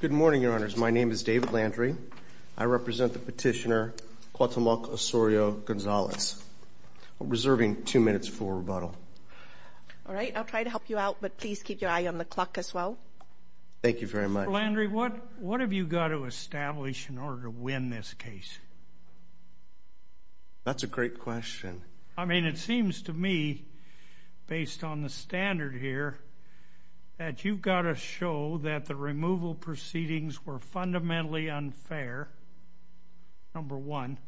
Good morning, your honors. My name is David Landry. I represent the petitioner Cuauhtemoc Osorio-Gonzalez. I'm reserving two minutes for rebuttal. All right, I'll try to help you out, but please keep your eye on the clock as well. Thank you very much. Mr. Landry, what have you got to establish in order to win this case? That's a great question. I believe, based on the standard here, that you've got to show that the removal proceedings were fundamentally unfair, number one,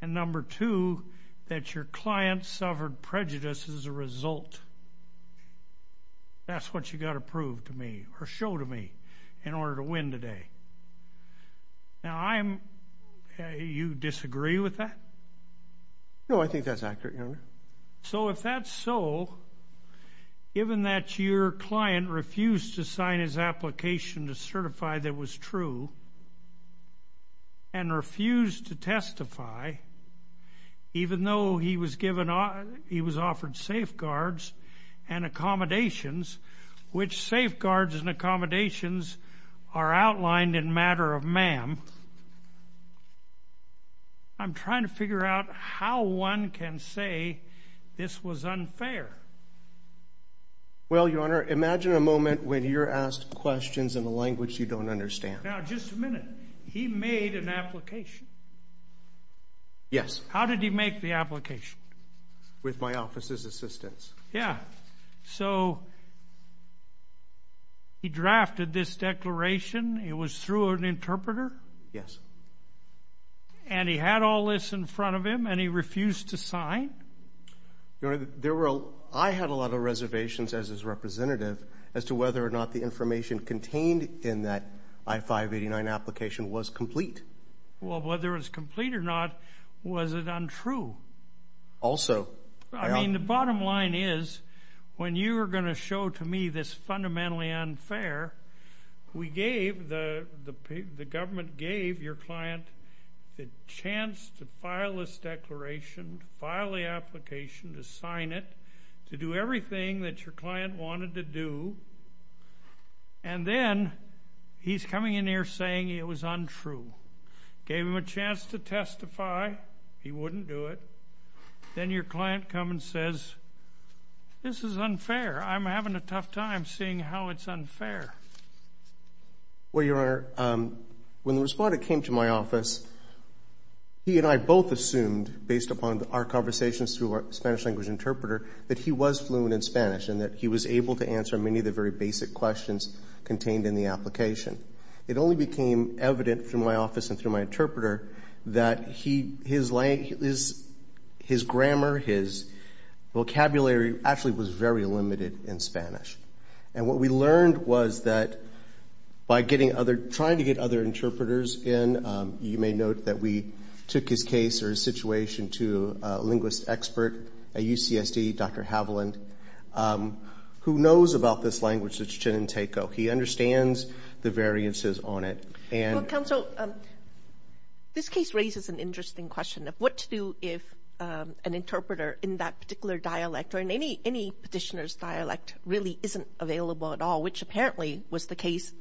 and number two, that your client suffered prejudice as a result. That's what you've got to prove to me, or show to me, in order to win today. Now, you disagree with that? No, I think that's accurate, your honor. So if that's so, given that your client refused to sign his application to certify that was true and refused to testify, even though he was offered safeguards and accommodations, which safeguards and accommodations are outlined in matter of ma'am, I'm trying to figure out how one can say this was unfair. Well, your honor, imagine a moment when you're asked questions in a language you don't understand. Now, just a minute. He made an application. Yes. How did he make the application? With my office's assistance. Yeah. So he drafted this declaration. It was through an interpreter? Yes. And he had all this in front of him, and he refused to sign? Your honor, I had a lot of reservations, as his representative, as to whether or not the information contained in that I-589 application was complete. Well, whether it was complete or not, was it untrue? Also, your honor. I mean, the bottom line is, when you were going to show to me this fundamentally unfair, we gave, the government gave your client the chance to file this declaration, to file the application, to sign it, to do everything that your client wanted to do, and then he's coming in here saying it was untrue. Gave him a chance to testify. He wouldn't do it. Then your client comes and says, this is unfair. I'm having a tough time seeing how it's unfair. Well, your honor, when the respondent came to my office, he and I both assumed, based upon our conversations through our Spanish language interpreter, that he was fluent in Spanish and that he was able to answer many of the very basic questions contained in the application. It only became evident through my office and through my interpreter that his grammar, his vocabulary actually was very limited in Spanish. And what we learned was that by getting other, trying to get other interpreters in, you may note that we took his case or his situation to a linguist expert at UCSD, Dr. Haviland, who knows about this language, he understands the variances on it, and... Counsel, this case raises an interesting question of what to do if an interpreter in that particular dialect or in any petitioner's dialect really isn't available at all, which apparently was the case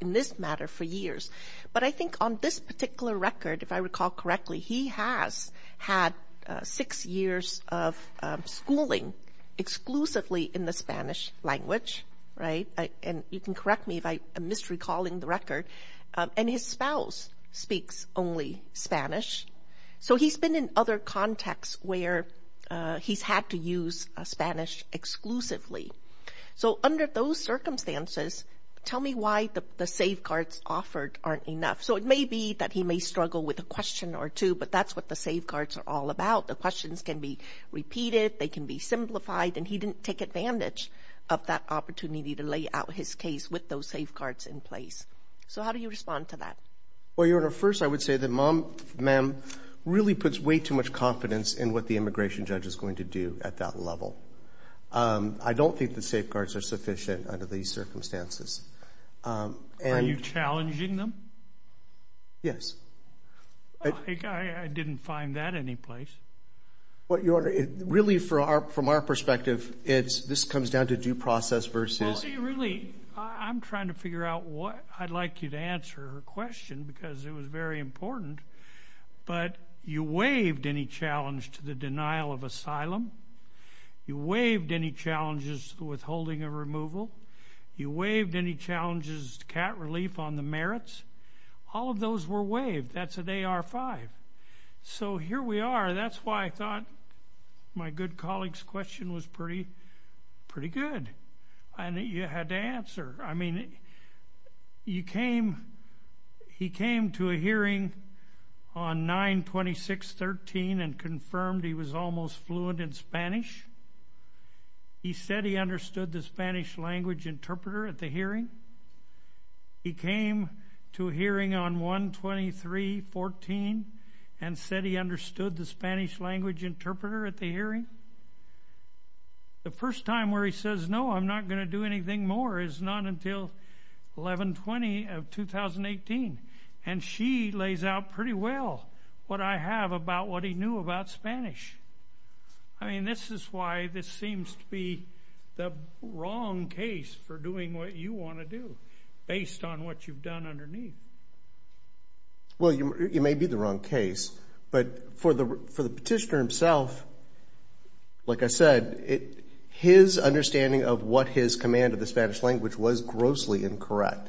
in this matter for years. But I think on this particular record, if I recall correctly, he has had six years of schooling exclusively in the Spanish language, right? And you can correct me if I am misrecalling the record. And his spouse speaks only Spanish. So he's been in other contexts where he's had to use Spanish exclusively. So under those circumstances, tell me why the safeguards offered aren't enough. So it may be that he may struggle with a question or two, but that's what the safeguards are all about. The questions can be repeated, they can be simplified, and he didn't take advantage of that opportunity to lay out his case with those safeguards in place. So how do you respond to that? Well, Your Honor, first I would say that Mom, Ma'am, really puts way too much confidence in what the immigration judge is going to do at that level. I don't think the safeguards are sufficient under these circumstances. Are you challenging them? I didn't find that anyplace. Well, Your Honor, really from our perspective, this comes down to due process versus... Well, see, really, I'm trying to figure out what I'd like you to answer her question because it was very important. But you waived any challenge to the denial of asylum. You waived any challenges to withholding a removal. You waived any challenges to cat relief on the merits. All of those were waived. That's an AR-5. So here we are. That's why I thought my good colleague's question was pretty good. And you had to answer. I mean, you came... He came to a hearing on 9-26-13 and confirmed he was almost fluent in Spanish. He said he understood the Spanish language interpreter at the hearing. He came to a hearing on 1-23-14 and said he understood the Spanish language interpreter at the hearing. The first time where he says, no, I'm not going to do anything more is not until 11-20-2018. And she lays out pretty well what I have about what he knew about Spanish. I mean, this is why this seems to be the wrong case for doing what you want to do based on what you've done underneath. Well, you may be the wrong case. But for the petitioner himself, like I said, his understanding of what his command of the Spanish language was grossly incorrect.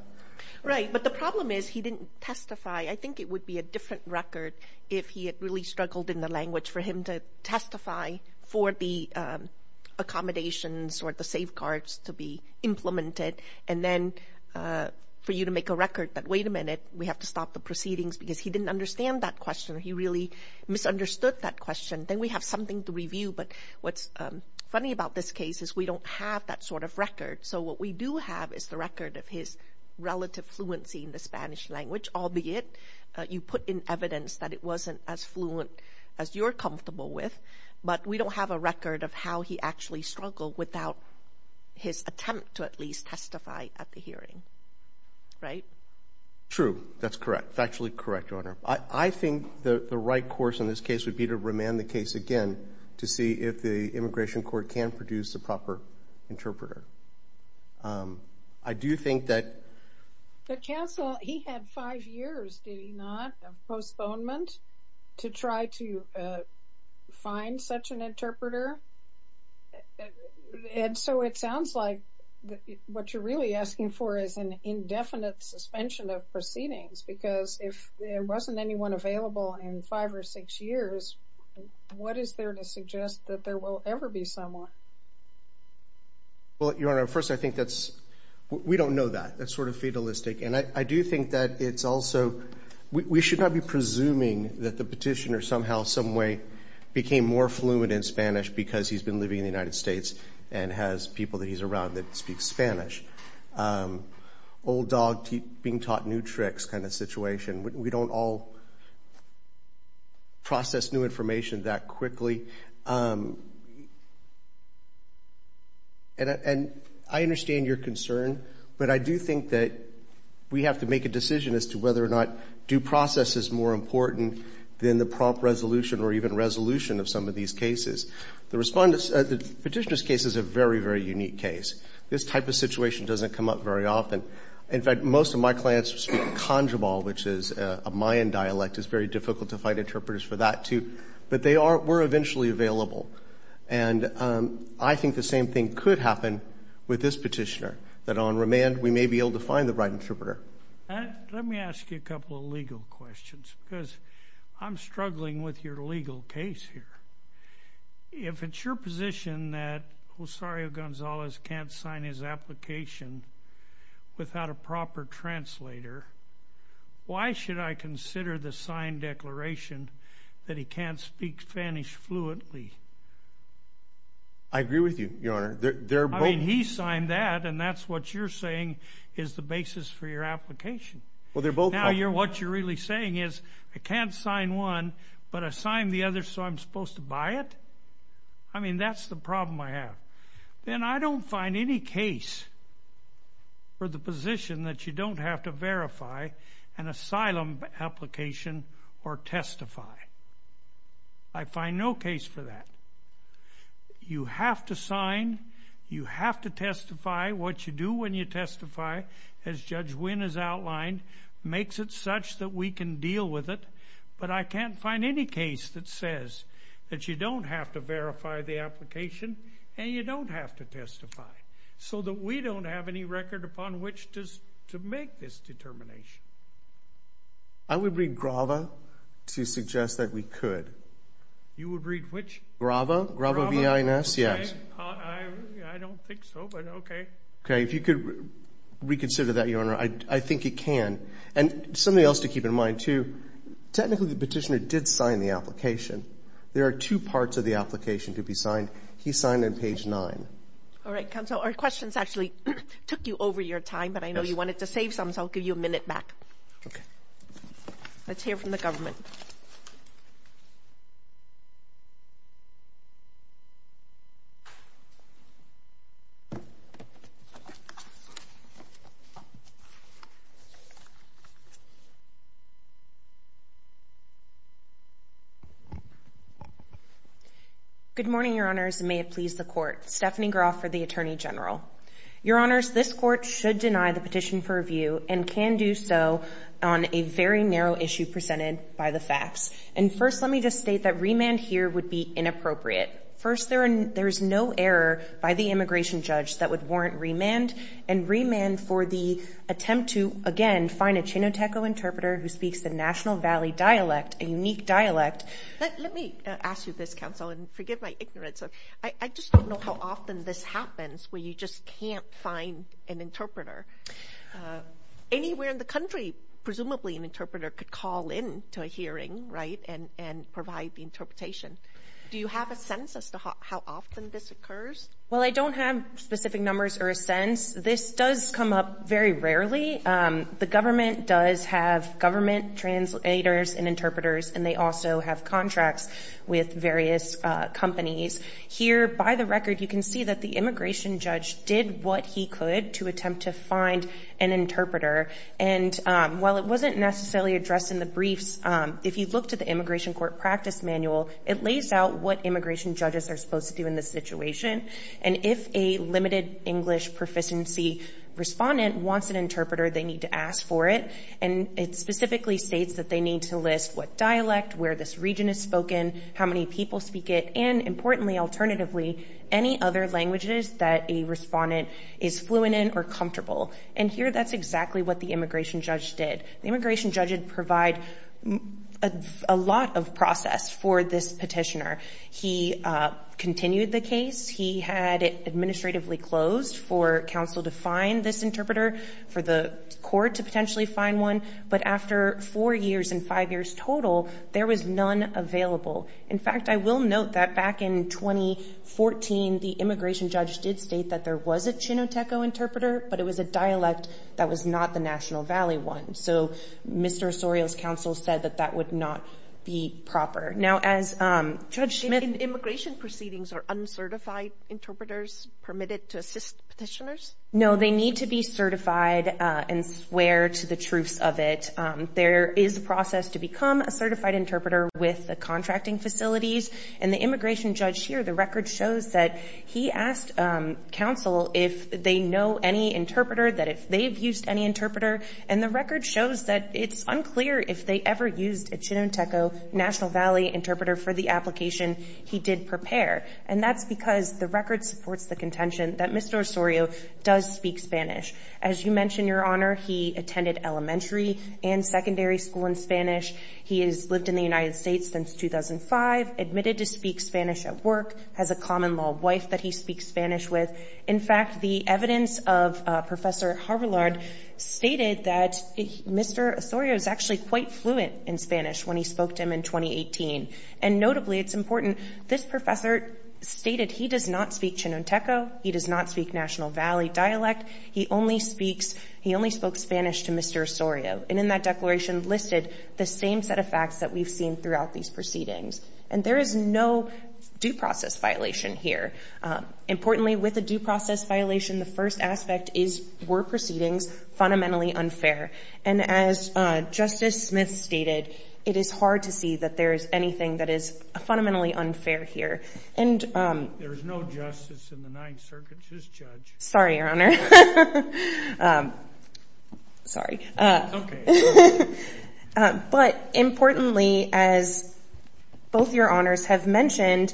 Right. But the problem is he didn't testify. I think it would be a different record if he had really struggled in the language for him to testify for the accommodations or the proceedings because he didn't understand that question or he really misunderstood that question. Then we have something to review. But what's funny about this case is we don't have that sort of record. So what we do have is the record of his relative fluency in the Spanish language, albeit you put in evidence that it wasn't as fluent as you're comfortable with. But we don't have a record of how he actually struggled without his attempt to at least testify at the hearing. Right? True. That's correct. Factually correct, Your Honor. I think the right course in this case would be to remand the case again to see if the Immigration Court can produce a proper interpreter. I do think that... The counsel, he had five years, did he not, of postponement to try to find such an interpreter? What you're really asking for is an indefinite suspension of proceedings because if there wasn't anyone available in five or six years, what is there to suggest that there will ever be someone? Well, Your Honor, first I think that's... We don't know that. That's sort of fatalistic. And I do think that it's also... We should not be presuming that the petitioner somehow someway became more fluent in Spanish because he's been living in the United States and has people that he's around that speak Spanish. Old dog being taught new tricks kind of situation. We don't all process new information that quickly. And I understand your concern, but I do think that we have to make a decision as to whether or not due process is more important than the prompt resolution or even resolution of some of these cases. The petitioner's case is a very, very unique case. This type of situation doesn't come up very often. In fact, most of my clients speak Conjabal, which is a Mayan dialect. It's very difficult to find interpreters for that, too. But they were eventually available. And I think the same thing could happen with this petitioner, that on remand we may be able to find the right interpreter. Let me ask you a couple of legal questions because I'm struggling with your legal case here. If it's your position that Josario Gonzalez can't sign his application without a proper translator, why should I consider the signed declaration that he can't speak Spanish fluently? I agree with you, Your Honor. I mean, he signed that, and that's what you're saying is the basis for your application. Well, they're both... What you're really saying is, I can't sign one, but I signed the other, so I'm supposed to buy it? I mean, that's the problem I have. Then I don't find any case for the position that you don't have to verify an asylum application or testify. I find no case for that. You have to sign. You have to testify. What you do when you testify, as Judge Wynn has outlined, makes it such that we can deal with it, but I can't find any case that says that you don't have to verify the application and you don't have to testify, so that we don't have any record upon which to make this determination. I would read GRAVA to suggest that we could. You would read which? GRAVA, GRAVA B-I-N-S, yes. I don't think so, but okay. Okay, if you could reconsider that, Your Honor, I think it can. And something else to keep in mind, too, technically the petitioner did sign the application. There are two parts of the application to be signed. He signed on page 9. All right, counsel. Our questions actually took you over your time, but I know you wanted to save some, so I'll give you a minute back. Okay. Let's hear from the government. Good morning, Your Honors, and may it please the Court. Stephanie Groff for the Attorney General. Your Honors, this Court should deny the petition for review and can do so on a very narrow issue presented by the facts. And first, let me just state that remand here would be inappropriate. First, there is no error by the immigration judge that would warrant remand, and remand for the attempt to, again, find a Chinoteco interpreter who speaks the National Valley dialect, a unique dialect. Let me ask you this, counsel, and forgive my ignorance. I just don't know how often this happens where you just can't find an interpreter. Anywhere in the country, presumably an interpreter could call in to a hearing, right, and provide the interpretation. Do you have a sense as to how often this occurs? Well, I don't have specific numbers or a sense. This does come up very rarely. The government does have government translators and interpreters, and they also have contracts with various companies. Here, by the record, you can see that the immigration judge did what he could to attempt to find an interpreter. And while it wasn't necessarily addressed in the briefs, if you look to the immigration court practice manual, it lays out what immigration judges are supposed to do in this situation. And if a limited English proficiency respondent wants an interpreter, they need to ask for it. And it specifically states that they need to list what dialect, where this region is spoken, how many people speak it, and importantly, alternatively, any other languages that a respondent is fluent in or comfortable. And here, that's exactly what the immigration judge did. The immigration judge did provide a lot of process for this petitioner. He continued the case. He had it administratively closed for counsel to find this interpreter, for the court to potentially find one. But after four years and five years total, there was none available. In fact, I will note that back in 2014, the immigration judge did state that there was a Chinoteco interpreter, but it was a dialect that was not the National Valley one. So Mr. Osorio's counsel said that that would not be proper. Now, as Judge Smith... In immigration proceedings, are uncertified interpreters permitted to assist petitioners? No, they need to be certified and swear to the truths of it. There is a process to become a certified interpreter with the contracting facilities. And the immigration judge here, the record shows that he asked counsel if they know any interpreter, that if they've used any interpreter. And the record shows that it's unclear if they ever used a Chinoteco National Valley interpreter for the application he did prepare. And that's because the record supports the contention that Mr. Osorio does speak Spanish. As you mentioned, Your Honor, he attended elementary and secondary school in Spanish. He has lived in the has a common-law wife that he speaks Spanish with. In fact, the evidence of Professor Harvillard stated that Mr. Osorio is actually quite fluent in Spanish when he spoke to him in 2018. And notably, it's important, this professor stated he does not speak Chinoteco. He does not speak National Valley dialect. He only speaks, he only spoke Spanish to Mr. Osorio. And in that declaration listed the same set of facts that we've seen throughout these proceedings. And there is no due process violation here. Importantly, with a due process violation, the first aspect is, were proceedings fundamentally unfair? And as Justice Smith stated, it is hard to see that there is anything that is fundamentally unfair here. And There is no justice in the Ninth Circuit, Ms. Judge. Sorry, Your Honor. Sorry. But importantly, as both Your Honors have mentioned,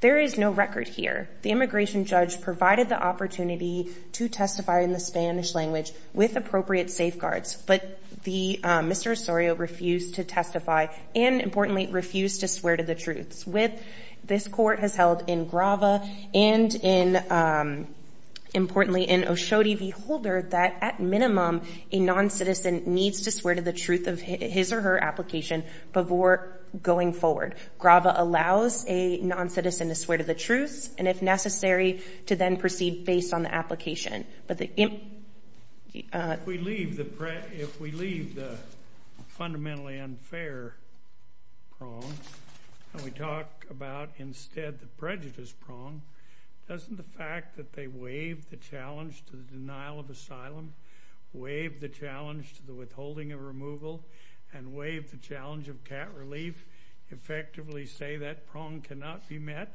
there is no record here. The immigration judge provided the opportunity to testify in the Spanish language with appropriate safeguards. But the Mr. Osorio refused to testify and importantly, refused to swear to the truth. This court has held in Grava and importantly in Oshodi v. Holder that at minimum, a non-citizen needs to swear to the truth of his or her application before going forward. Grava allows a non-citizen to swear to the truth and if necessary, to then proceed based on the application. But the and we talk about instead the prejudice prong, doesn't the fact that they waive the challenge to the denial of asylum, waive the challenge to the withholding of removal, and waive the challenge of cat relief, effectively say that prong cannot be met?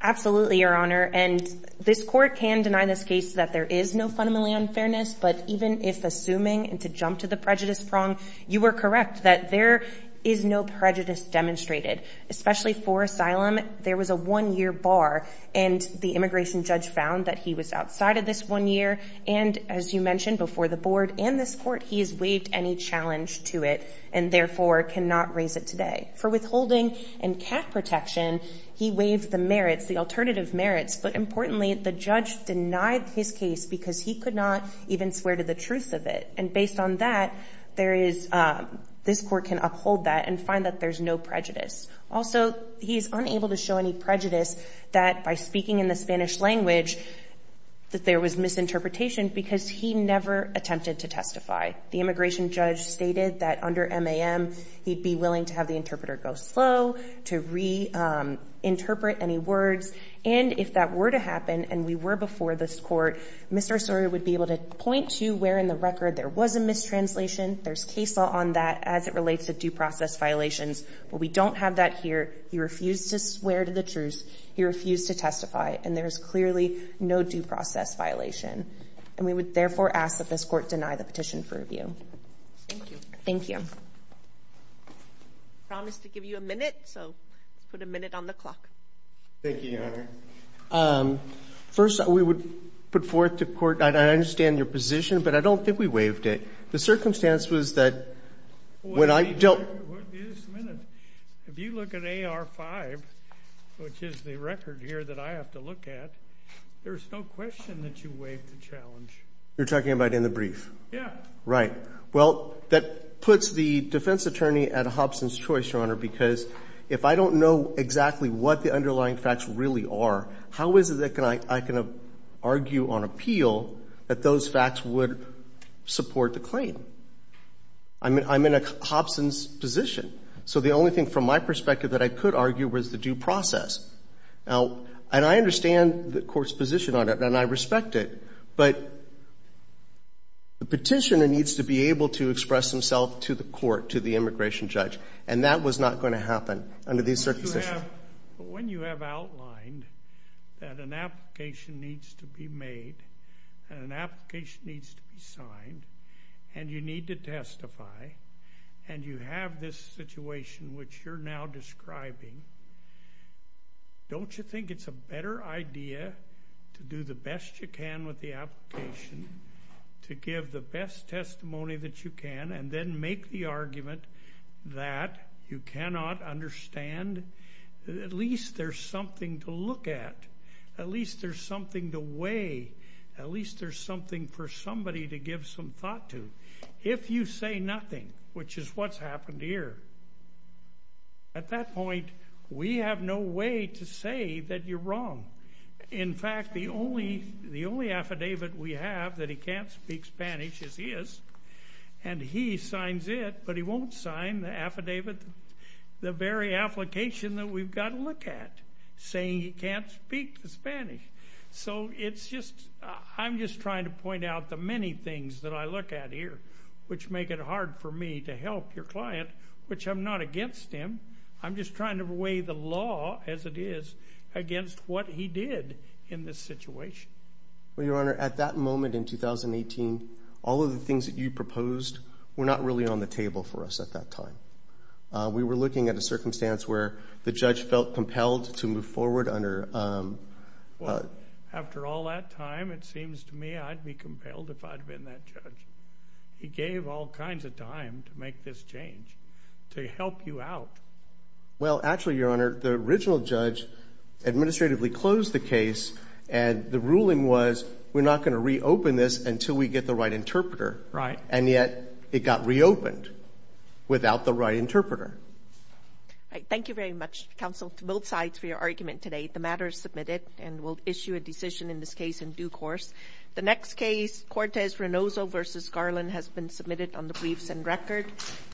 Absolutely, Your Honor. And this court can deny this case that there is no fundamentally unfairness, but even if assuming and to jump to the prejudice prong, you are correct that there is no prejudice demonstrated. Especially for asylum, there was a one-year bar and the immigration judge found that he was outside of this one year and as you mentioned before the board and this court, he has waived any challenge to it and therefore cannot raise it today. For withholding and cat protection, he waived the merits, the alternative merits, but importantly, the judge denied his case because he could not even swear to the truth of it. And based on that, there is, this court can uphold that and find that there's no prejudice. Also, he's unable to show any prejudice that by speaking in the Spanish language that there was misinterpretation because he never attempted to testify. The immigration judge stated that under MAM, he'd be willing to have the interpreter go slow, to reinterpret any words, and if that were to happen and we were before this court, we would ask that this court deny the petition for review. Thank you. I promise to give you a minute. So, put a minute on the clock. Thank you, Your Honor. First, we would put forth to court, I understand your position, but I don't think we have a chance to do that. I think the best chance was that when I don't — Wait a minute. If you look at AR-5, which is the record here that I have to look at, there's no question that you waived the challenge. You're talking about in the brief? Yeah. Right. Well, that puts the defense attorney at a Hobson's choice, Your Honor, because if I don't know exactly what the underlying facts really are, how is it that I can argue on appeal that those facts would support the claim? I'm in a Hobson's position. So the only thing from my perspective that I could argue was the due process. Now, and I understand the court's position on it, and I respect it, but the petitioner needs to be able to express himself to the court, to the immigration judge, and that was not going to happen under these circumstances. But when you have outlined that an application needs to be made and an application needs to be signed and you need to testify and you have this situation which you're now describing, don't you think it's a better idea to do the best you can with the application, to give the best testimony that you can, and then make the argument that you at least there's something to look at, at least there's something to weigh, at least there's something for somebody to give some thought to? If you say nothing, which is what's happened here, at that point we have no way to say that you're wrong. In fact, the only affidavit we have that he can't speak Spanish is his, and he signs it, but he won't sign the affidavit, the very application that we've got to look at, saying he can't speak Spanish. So it's just, I'm just trying to point out the many things that I look at here which make it hard for me to help your client, which I'm not against him, I'm just trying to weigh the law as it is against what he did in this situation. Well, Your Honor, at that moment in 2018, all of the things that you proposed were not really on the table for us at that time. We were looking at a circumstance where the judge felt compelled to move forward under... Well, after all that time, it seems to me I'd be compelled if I'd been that judge. He gave all kinds of time to make this change, to help you out. Well, actually, Your Honor, the original judge administratively closed the case, and the ruling was, we're not going to reopen this until we get the right interpreter. Right. And yet, it got reopened without the right interpreter. Thank you very much, counsel, to both sides for your argument today. The matter is submitted, and we'll issue a decision in this case in due course. The next case, Cortez-Renoso v. Garland, has been submitted on the briefs and record.